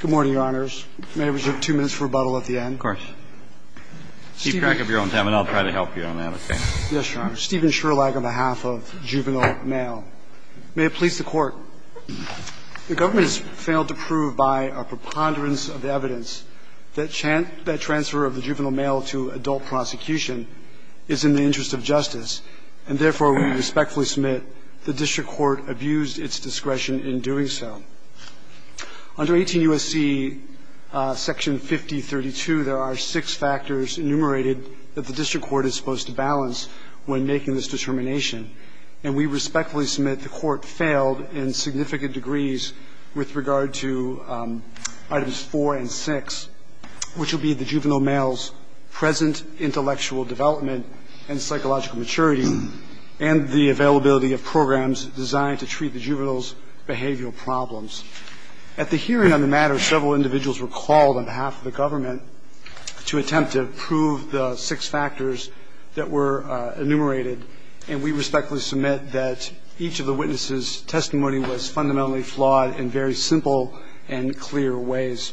Good morning, Your Honors. May I have two minutes for rebuttal at the end? Of course. Keep track of your own time, and I'll try to help you on that, okay? Yes, Your Honor. Steven Sherlag on behalf of Juvenile Male. May it please the Court, the government has failed to prove by a preponderance of evidence that transfer of the juvenile male to adult prosecution is in the interest of justice, and therefore we respectfully submit the district court abused its discretion in doing so. Under 18 U.S.C. section 5032, there are six factors enumerated that the district court is supposed to balance when making this determination, and we respectfully submit the court failed in significant degrees with regard to items 4 and 6, which will be the juvenile male's present intellectual development and psychological maturity, and the availability of programs designed to treat the juvenile's behavioral problems. At the hearing on the matter, several individuals were called on behalf of the government to attempt to prove the six factors that were enumerated, and we respectfully submit that each of the witnesses' testimony was fundamentally flawed in very simple and clear ways.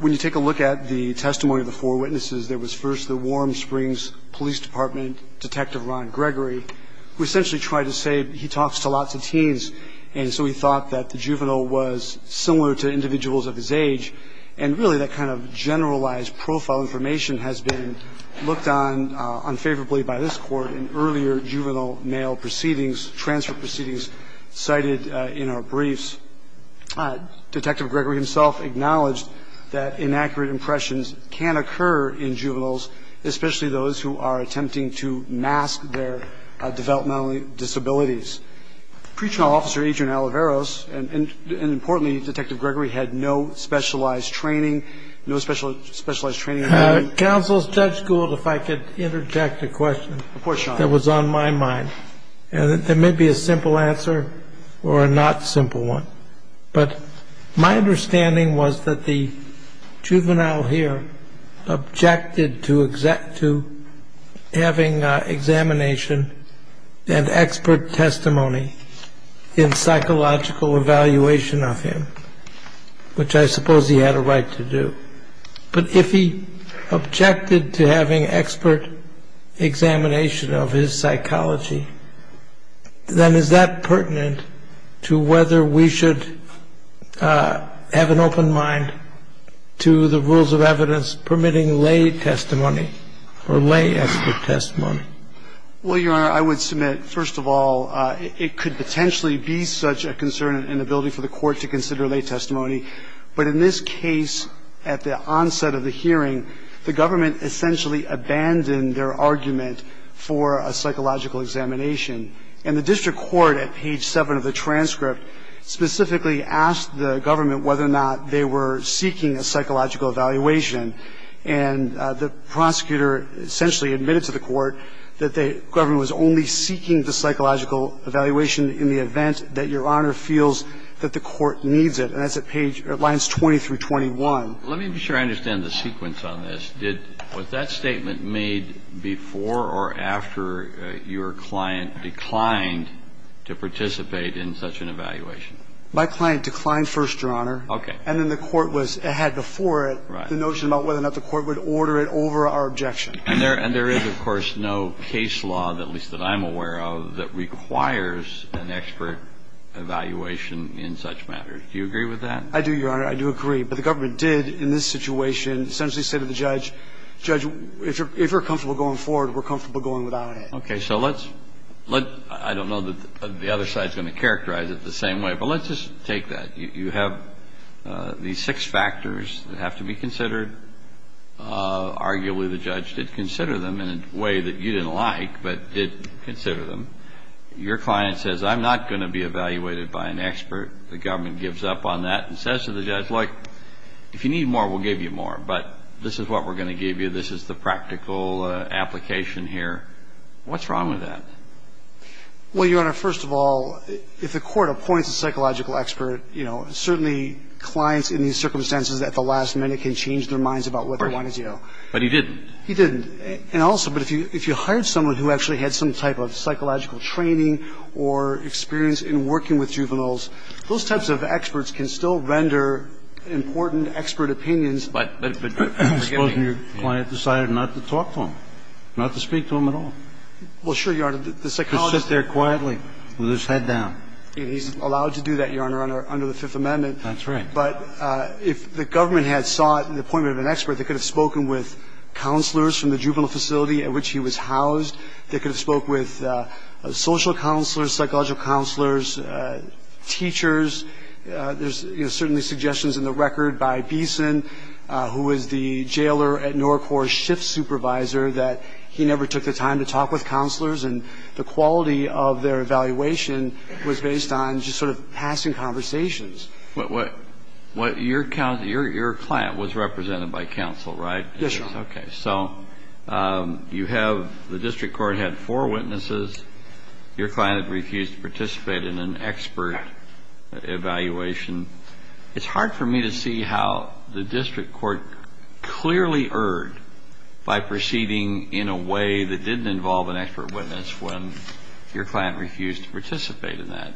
When you take a look at the testimony of the four witnesses, there was first the Warm Springs Police Department Detective Ron Gregory, who essentially tried to say that he talks to lots of teens, and so he thought that the juvenile was similar to individuals of his age, and really that kind of generalized profile information has been looked on unfavorably by this court in earlier juvenile male proceedings, transfer proceedings cited in our briefs. Detective Gregory himself acknowledged that inaccurate impressions can occur in juveniles, especially those who are attempting to mask their developmental disabilities. Pre-trial Officer Adrian Alvarez, and importantly, Detective Gregory had no specialized training, no specialized training. Counsel, Judge Gould, if I could interject a question that was on my mind, and it may be a simple answer or a not simple one, but my understanding was that the judge had not submitted expert testimony in psychological evaluation of him, which I suppose he had a right to do. But if he objected to having expert examination of his psychology, then is that pertinent to whether we should have an open mind to the rules of evidence permitting lay testimony or lay expert testimony? Well, Your Honor, I would submit, first of all, it could potentially be such a concern and an inability for the court to consider lay testimony. But in this case, at the onset of the hearing, the government essentially abandoned their argument for a psychological examination. And the district court at page 7 of the transcript specifically asked the government whether or not they were seeking a psychological evaluation. And the prosecutor essentially admitted to the court that the government was only seeking the psychological evaluation in the event that Your Honor feels that the court needs it. And that's at page 20 through 21. Let me be sure I understand the sequence on this. Did that statement made before or after your client declined to participate in such an evaluation? My client declined first, Your Honor. Okay. And then the court was ahead before it. Right. The notion about whether or not the court would order it over our objection. And there is, of course, no case law, at least that I'm aware of, that requires an expert evaluation in such matters. Do you agree with that? I do, Your Honor. I do agree. But the government did, in this situation, essentially say to the judge, Judge, if you're comfortable going forward, we're comfortable going without it. Okay. So let's – I don't know that the other side is going to characterize it the same way, but let's just take that. You have these six factors that have to be considered. Arguably, the judge did consider them in a way that you didn't like, but did consider them. Your client says, I'm not going to be evaluated by an expert. The government gives up on that and says to the judge, look, if you need more, we'll give you more. But this is what we're going to give you. This is the practical application here. What's wrong with that? Well, Your Honor, first of all, if the court appoints a psychological expert, you know, certainly clients in these circumstances at the last minute can change their minds about what they want to do. But he didn't. He didn't. And also, but if you hired someone who actually had some type of psychological training or experience in working with juveniles, those types of experts can still render important expert opinions. But suppose your client decided not to talk to him, not to speak to him at all. Well, sure, Your Honor. The psychologist – Could sit there quietly with his head down. He's allowed to do that, Your Honor, under the Fifth Amendment. That's right. But if the government had sought the appointment of an expert that could have spoken with counselors from the juvenile facility at which he was housed, that could have spoke with social counselors, psychological counselors, teachers, there's certainly suggestions in the record by Beeson, who was the jailer at NORCORPS' and the quality of their evaluation was based on just sort of passing conversations. What – your client was represented by counsel, right? Yes, Your Honor. Okay. So you have – the district court had four witnesses. Your client had refused to participate in an expert evaluation. It's hard for me to see how the district court clearly erred by proceeding in a way that didn't involve an expert witness when your client refused to participate in that.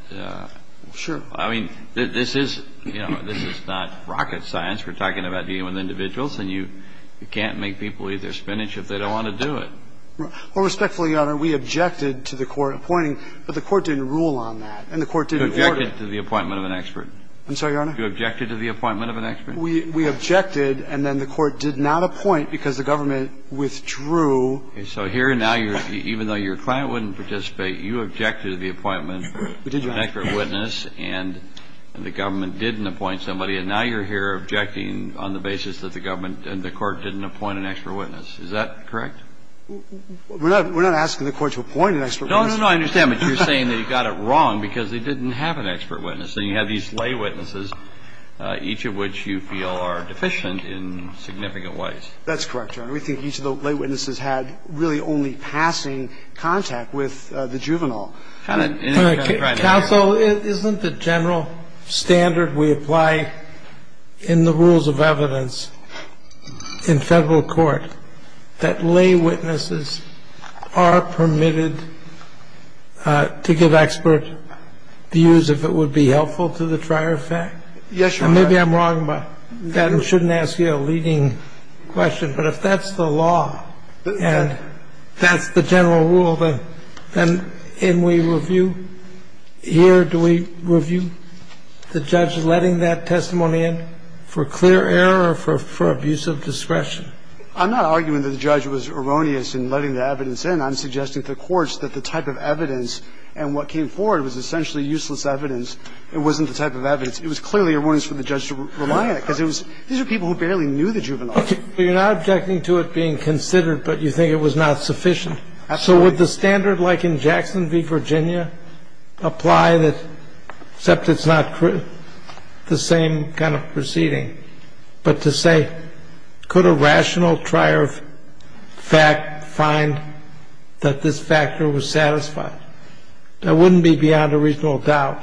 Sure. I mean, this is – you know, this is not rocket science. We're talking about dealing with individuals, and you can't make people eat their spinach if they don't want to do it. Well, respectfully, Your Honor, we objected to the court appointing – but the court didn't rule on that, and the court didn't order – You objected to the appointment of an expert. I'm sorry, Your Honor? You objected to the appointment of an expert? We objected, and then the court did not appoint because the government withdrew – Okay. So here now you're – even though your client wouldn't participate, you objected to the appointment of an expert witness, and the government didn't appoint somebody, and now you're here objecting on the basis that the government and the court didn't appoint an expert witness. Is that correct? We're not – we're not asking the court to appoint an expert witness. No, no, no. I understand. But you're saying that you got it wrong because they didn't have an expert witness. So you have these lay witnesses, each of which you feel are deficient in significant ways. That's correct, Your Honor. We think each of the lay witnesses had really only passing contact with the juvenile. Counsel, isn't the general standard we apply in the rules of evidence in Federal court that lay witnesses are permitted to give expert views if it would be helpful to the trier fact? Yes, Your Honor. And maybe I'm wrong about that and shouldn't ask you a leading question, but if that's the law and that's the general rule, then in we review? Here do we review the judge letting that testimony in for clear error or for abuse of discretion? I'm not arguing that the judge was erroneous in letting the evidence in. I'm suggesting to the courts that the type of evidence and what came forward was essentially useless evidence. It wasn't the type of evidence. It was clearly erroneous for the judge to rely on it because it was – these are people who barely knew the juvenile. So you're not objecting to it being considered, but you think it was not sufficient? Absolutely. So would the standard like in Jackson v. Virginia apply that – except it's not the same kind of proceeding, but to say could a rational trier fact find that this factor was satisfied? That wouldn't be beyond a reasonable doubt,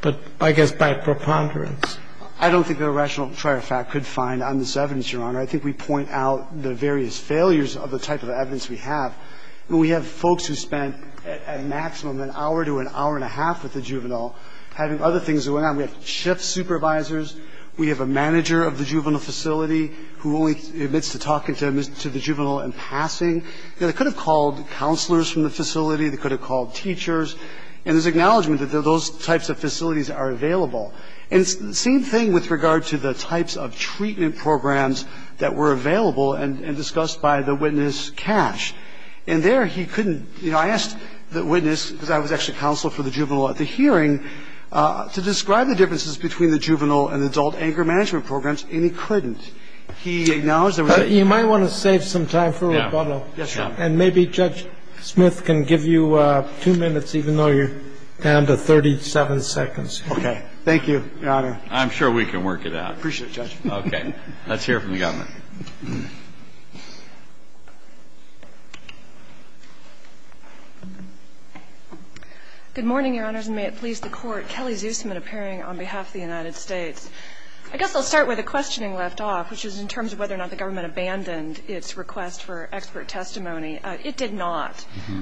but I guess by preponderance. I don't think a rational trier fact could find on this evidence, Your Honor. I think we point out the various failures of the type of evidence we have. We have folks who spent at maximum an hour to an hour and a half with the juvenile, having other things going on. We have shift supervisors. We have a manager of the juvenile facility who only admits to talking to the juvenile in passing. They could have called counselors from the facility. They could have called teachers. And there's acknowledgment that those types of facilities are available. And the same thing with regard to the types of treatment programs that were available and discussed by the witness, Cash. And there he couldn't – you know, I asked the witness, because I was actually counsel for the juvenile at the hearing, to describe the differences between the juvenile and adult anger management programs, and he couldn't. He acknowledged there was a – You might want to save some time for rebuttal. Yes, Your Honor. And maybe Judge Smith can give you two minutes, even though you're down to 37 seconds. Okay. Thank you, Your Honor. I'm sure we can work it out. Appreciate it, Judge. Okay. Let's hear from the government. Good morning, Your Honors, and may it please the Court. Kelly Zusman appearing on behalf of the United States. I guess I'll start with a questioning left off, which is in terms of whether or not the government abandoned its request for expert testimony. It did not.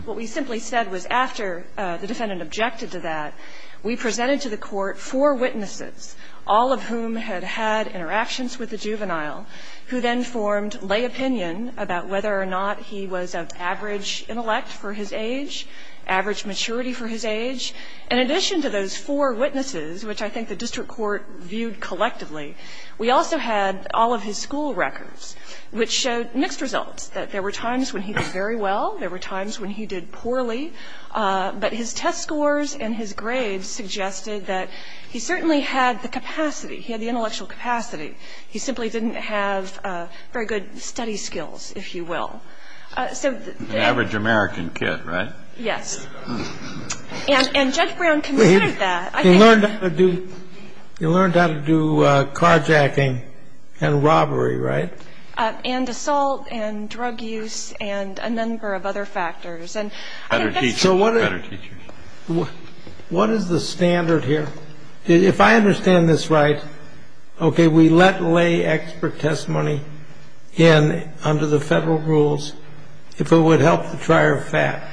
What we simply said was after the defendant objected to that, we presented to the District Court four witnesses, all of whom had had interactions with the juvenile, who then formed lay opinion about whether or not he was of average intellect for his age, average maturity for his age. In addition to those four witnesses, which I think the District Court viewed collectively, we also had all of his school records, which showed mixed results, that there were times when he did very well, there were times when he did poorly, but his test scores and his He certainly had the capacity. He had the intellectual capacity. He simply didn't have very good study skills, if you will. An average American kid, right? Yes. And Judge Brown considered that. He learned how to do carjacking and robbery, right? And assault and drug use and a number of other factors. Better teachers. What is the standard here? If I understand this right, okay, we let lay expert testimony in under the federal rules if it would help the trier of fact.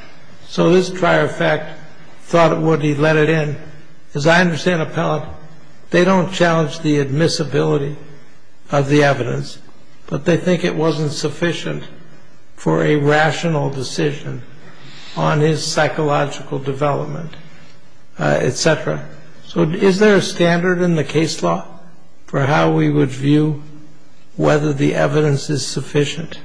So this trier of fact thought it would. He let it in. As I understand, appellant, they don't challenge the admissibility of the evidence, but they think it wasn't sufficient for a rational decision on his psychological development, et cetera. So is there a standard in the case law for how we would view whether the evidence is sufficient?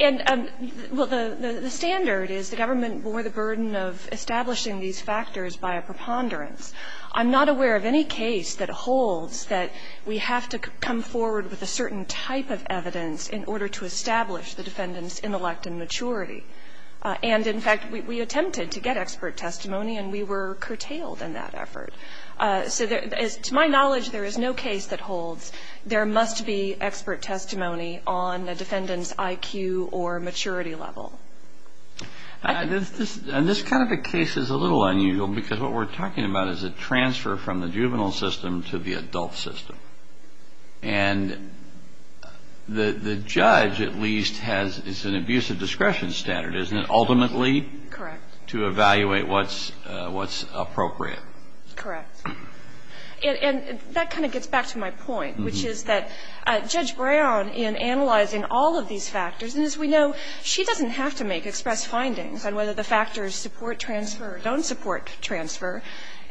And well, the standard is the government bore the burden of establishing these factors by a preponderance. I'm not aware of any case that holds that we have to come forward with a certain type of evidence in order to establish the defendant's intellect and maturity. And in fact, we attempted to get expert testimony and we were curtailed in that effort. So to my knowledge, there is no case that holds there must be expert testimony on the defendant's IQ or maturity level. And this kind of a case is a little unusual because what we're talking about is a transfer from the juvenile system to the adult system. And the judge at least has, it's an abusive discretion standard, isn't it, ultimately? Correct. To evaluate what's appropriate. Correct. And that kind of gets back to my point, which is that Judge Brown, in analyzing all of these factors, and as we know, she doesn't have to make express findings on whether the factors support transfer or don't support transfer.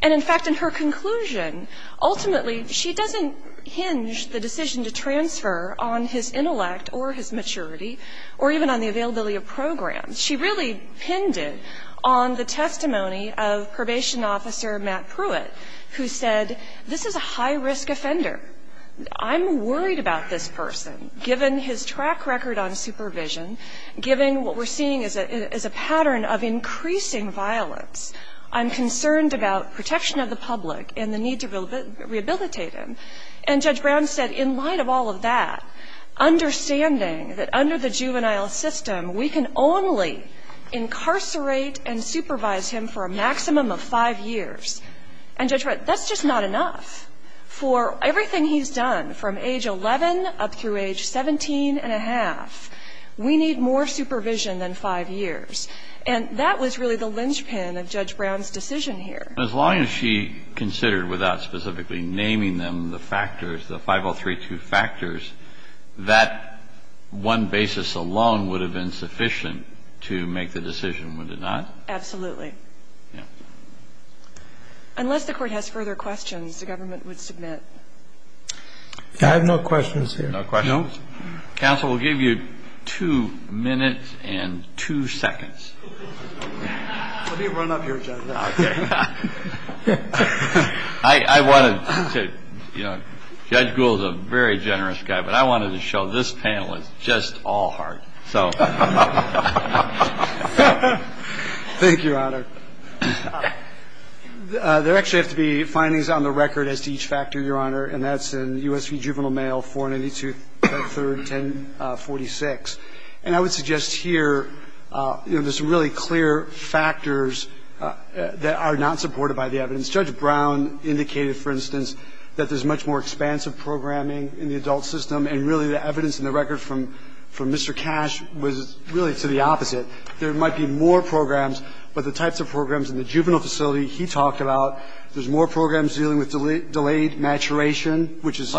And in fact, in her conclusion, ultimately she doesn't hinge the decision to transfer on his intellect or his maturity or even on the availability of programs. She really pinned it on the testimony of Probation Officer Matt Pruitt, who said this is a high-risk offender. I'm worried about this person, given his track record on supervision, given what we're seeing as a pattern of increasing violence. I'm concerned about protection of the public and the need to rehabilitate him. And Judge Brown said in light of all of that, understanding that under the juvenile system, we can only incarcerate and supervise him for a maximum of five years. And Judge Brown, that's just not enough. For everything he's done, from age 11 up through age 17 and a half, we need more supervision than five years. And that was really the linchpin of Judge Brown's decision here. And as long as she considered, without specifically naming them the factors, the 5032 factors, that one basis alone would have been sufficient to make the decision, would it not? Absolutely. Unless the Court has further questions, the Government would submit. I have no questions here. No questions? Counsel, we'll give you two minutes and two seconds. Let me run up here, Judge. I wanted to, you know, Judge Gould is a very generous guy, but I wanted to show this panel is just all heart, so. Thank you, Your Honor. There actually have to be findings on the record as to each factor, Your Honor, and that's in USV Juvenile Mail 492-310-46. And I would suggest here, you know, there's some really clear factors that are not supported by the evidence. Judge Brown indicated, for instance, that there's much more expansive programming in the adult system, and really the evidence in the record from Mr. Cash was really to the opposite. There might be more programs, but the types of programs in the juvenile facility he talked about, there's more programs dealing with delayed maturation, which is.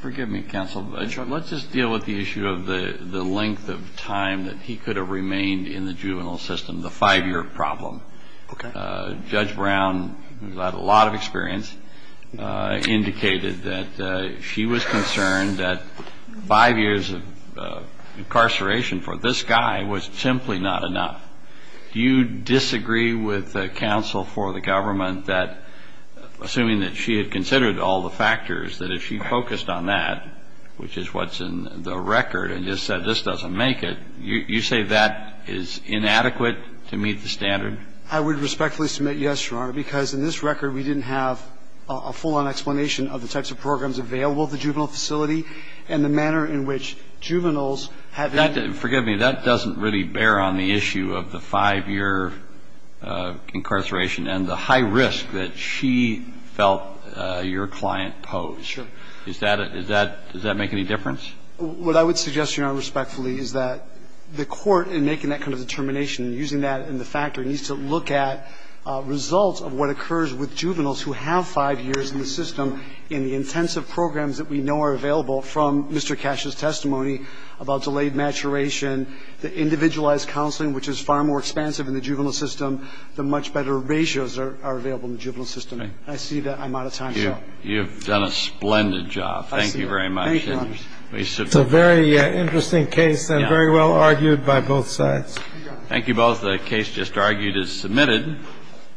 Forgive me, Counsel. Let's just deal with the issue of the length of time that he could have remained in the juvenile system, the five-year problem. Okay. Judge Brown, who had a lot of experience, indicated that she was concerned that five years of incarceration for this guy was simply not enough. Do you disagree with the counsel for the government that, assuming that she had considered all the factors, that if she focused on that, which is what's in the record, and just said this doesn't make it, you say that is inadequate to meet the standard? I would respectfully submit yes, Your Honor, because in this record we didn't have a full-on explanation of the types of programs available at the juvenile facility and the manner in which juveniles have been. Forgive me. That doesn't really bear on the issue of the five-year incarceration and the high risk that she felt your client posed. Sure. Does that make any difference? What I would suggest, Your Honor, respectfully, is that the Court, in making that kind of determination, using that in the factor, needs to look at results of what occurs with juveniles who have five years in the system in the intensive programs that we know are available from Mr. Cash's testimony about delayed maturation. The individualized counseling, which is far more expansive in the juvenile system, the much better ratios are available in the juvenile system. I see that I'm out of time, Your Honor. You have done a splendid job. Thank you very much. Thank you, Your Honor. It's a very interesting case and very well argued by both sides. Thank you both. The case just argued is submitted.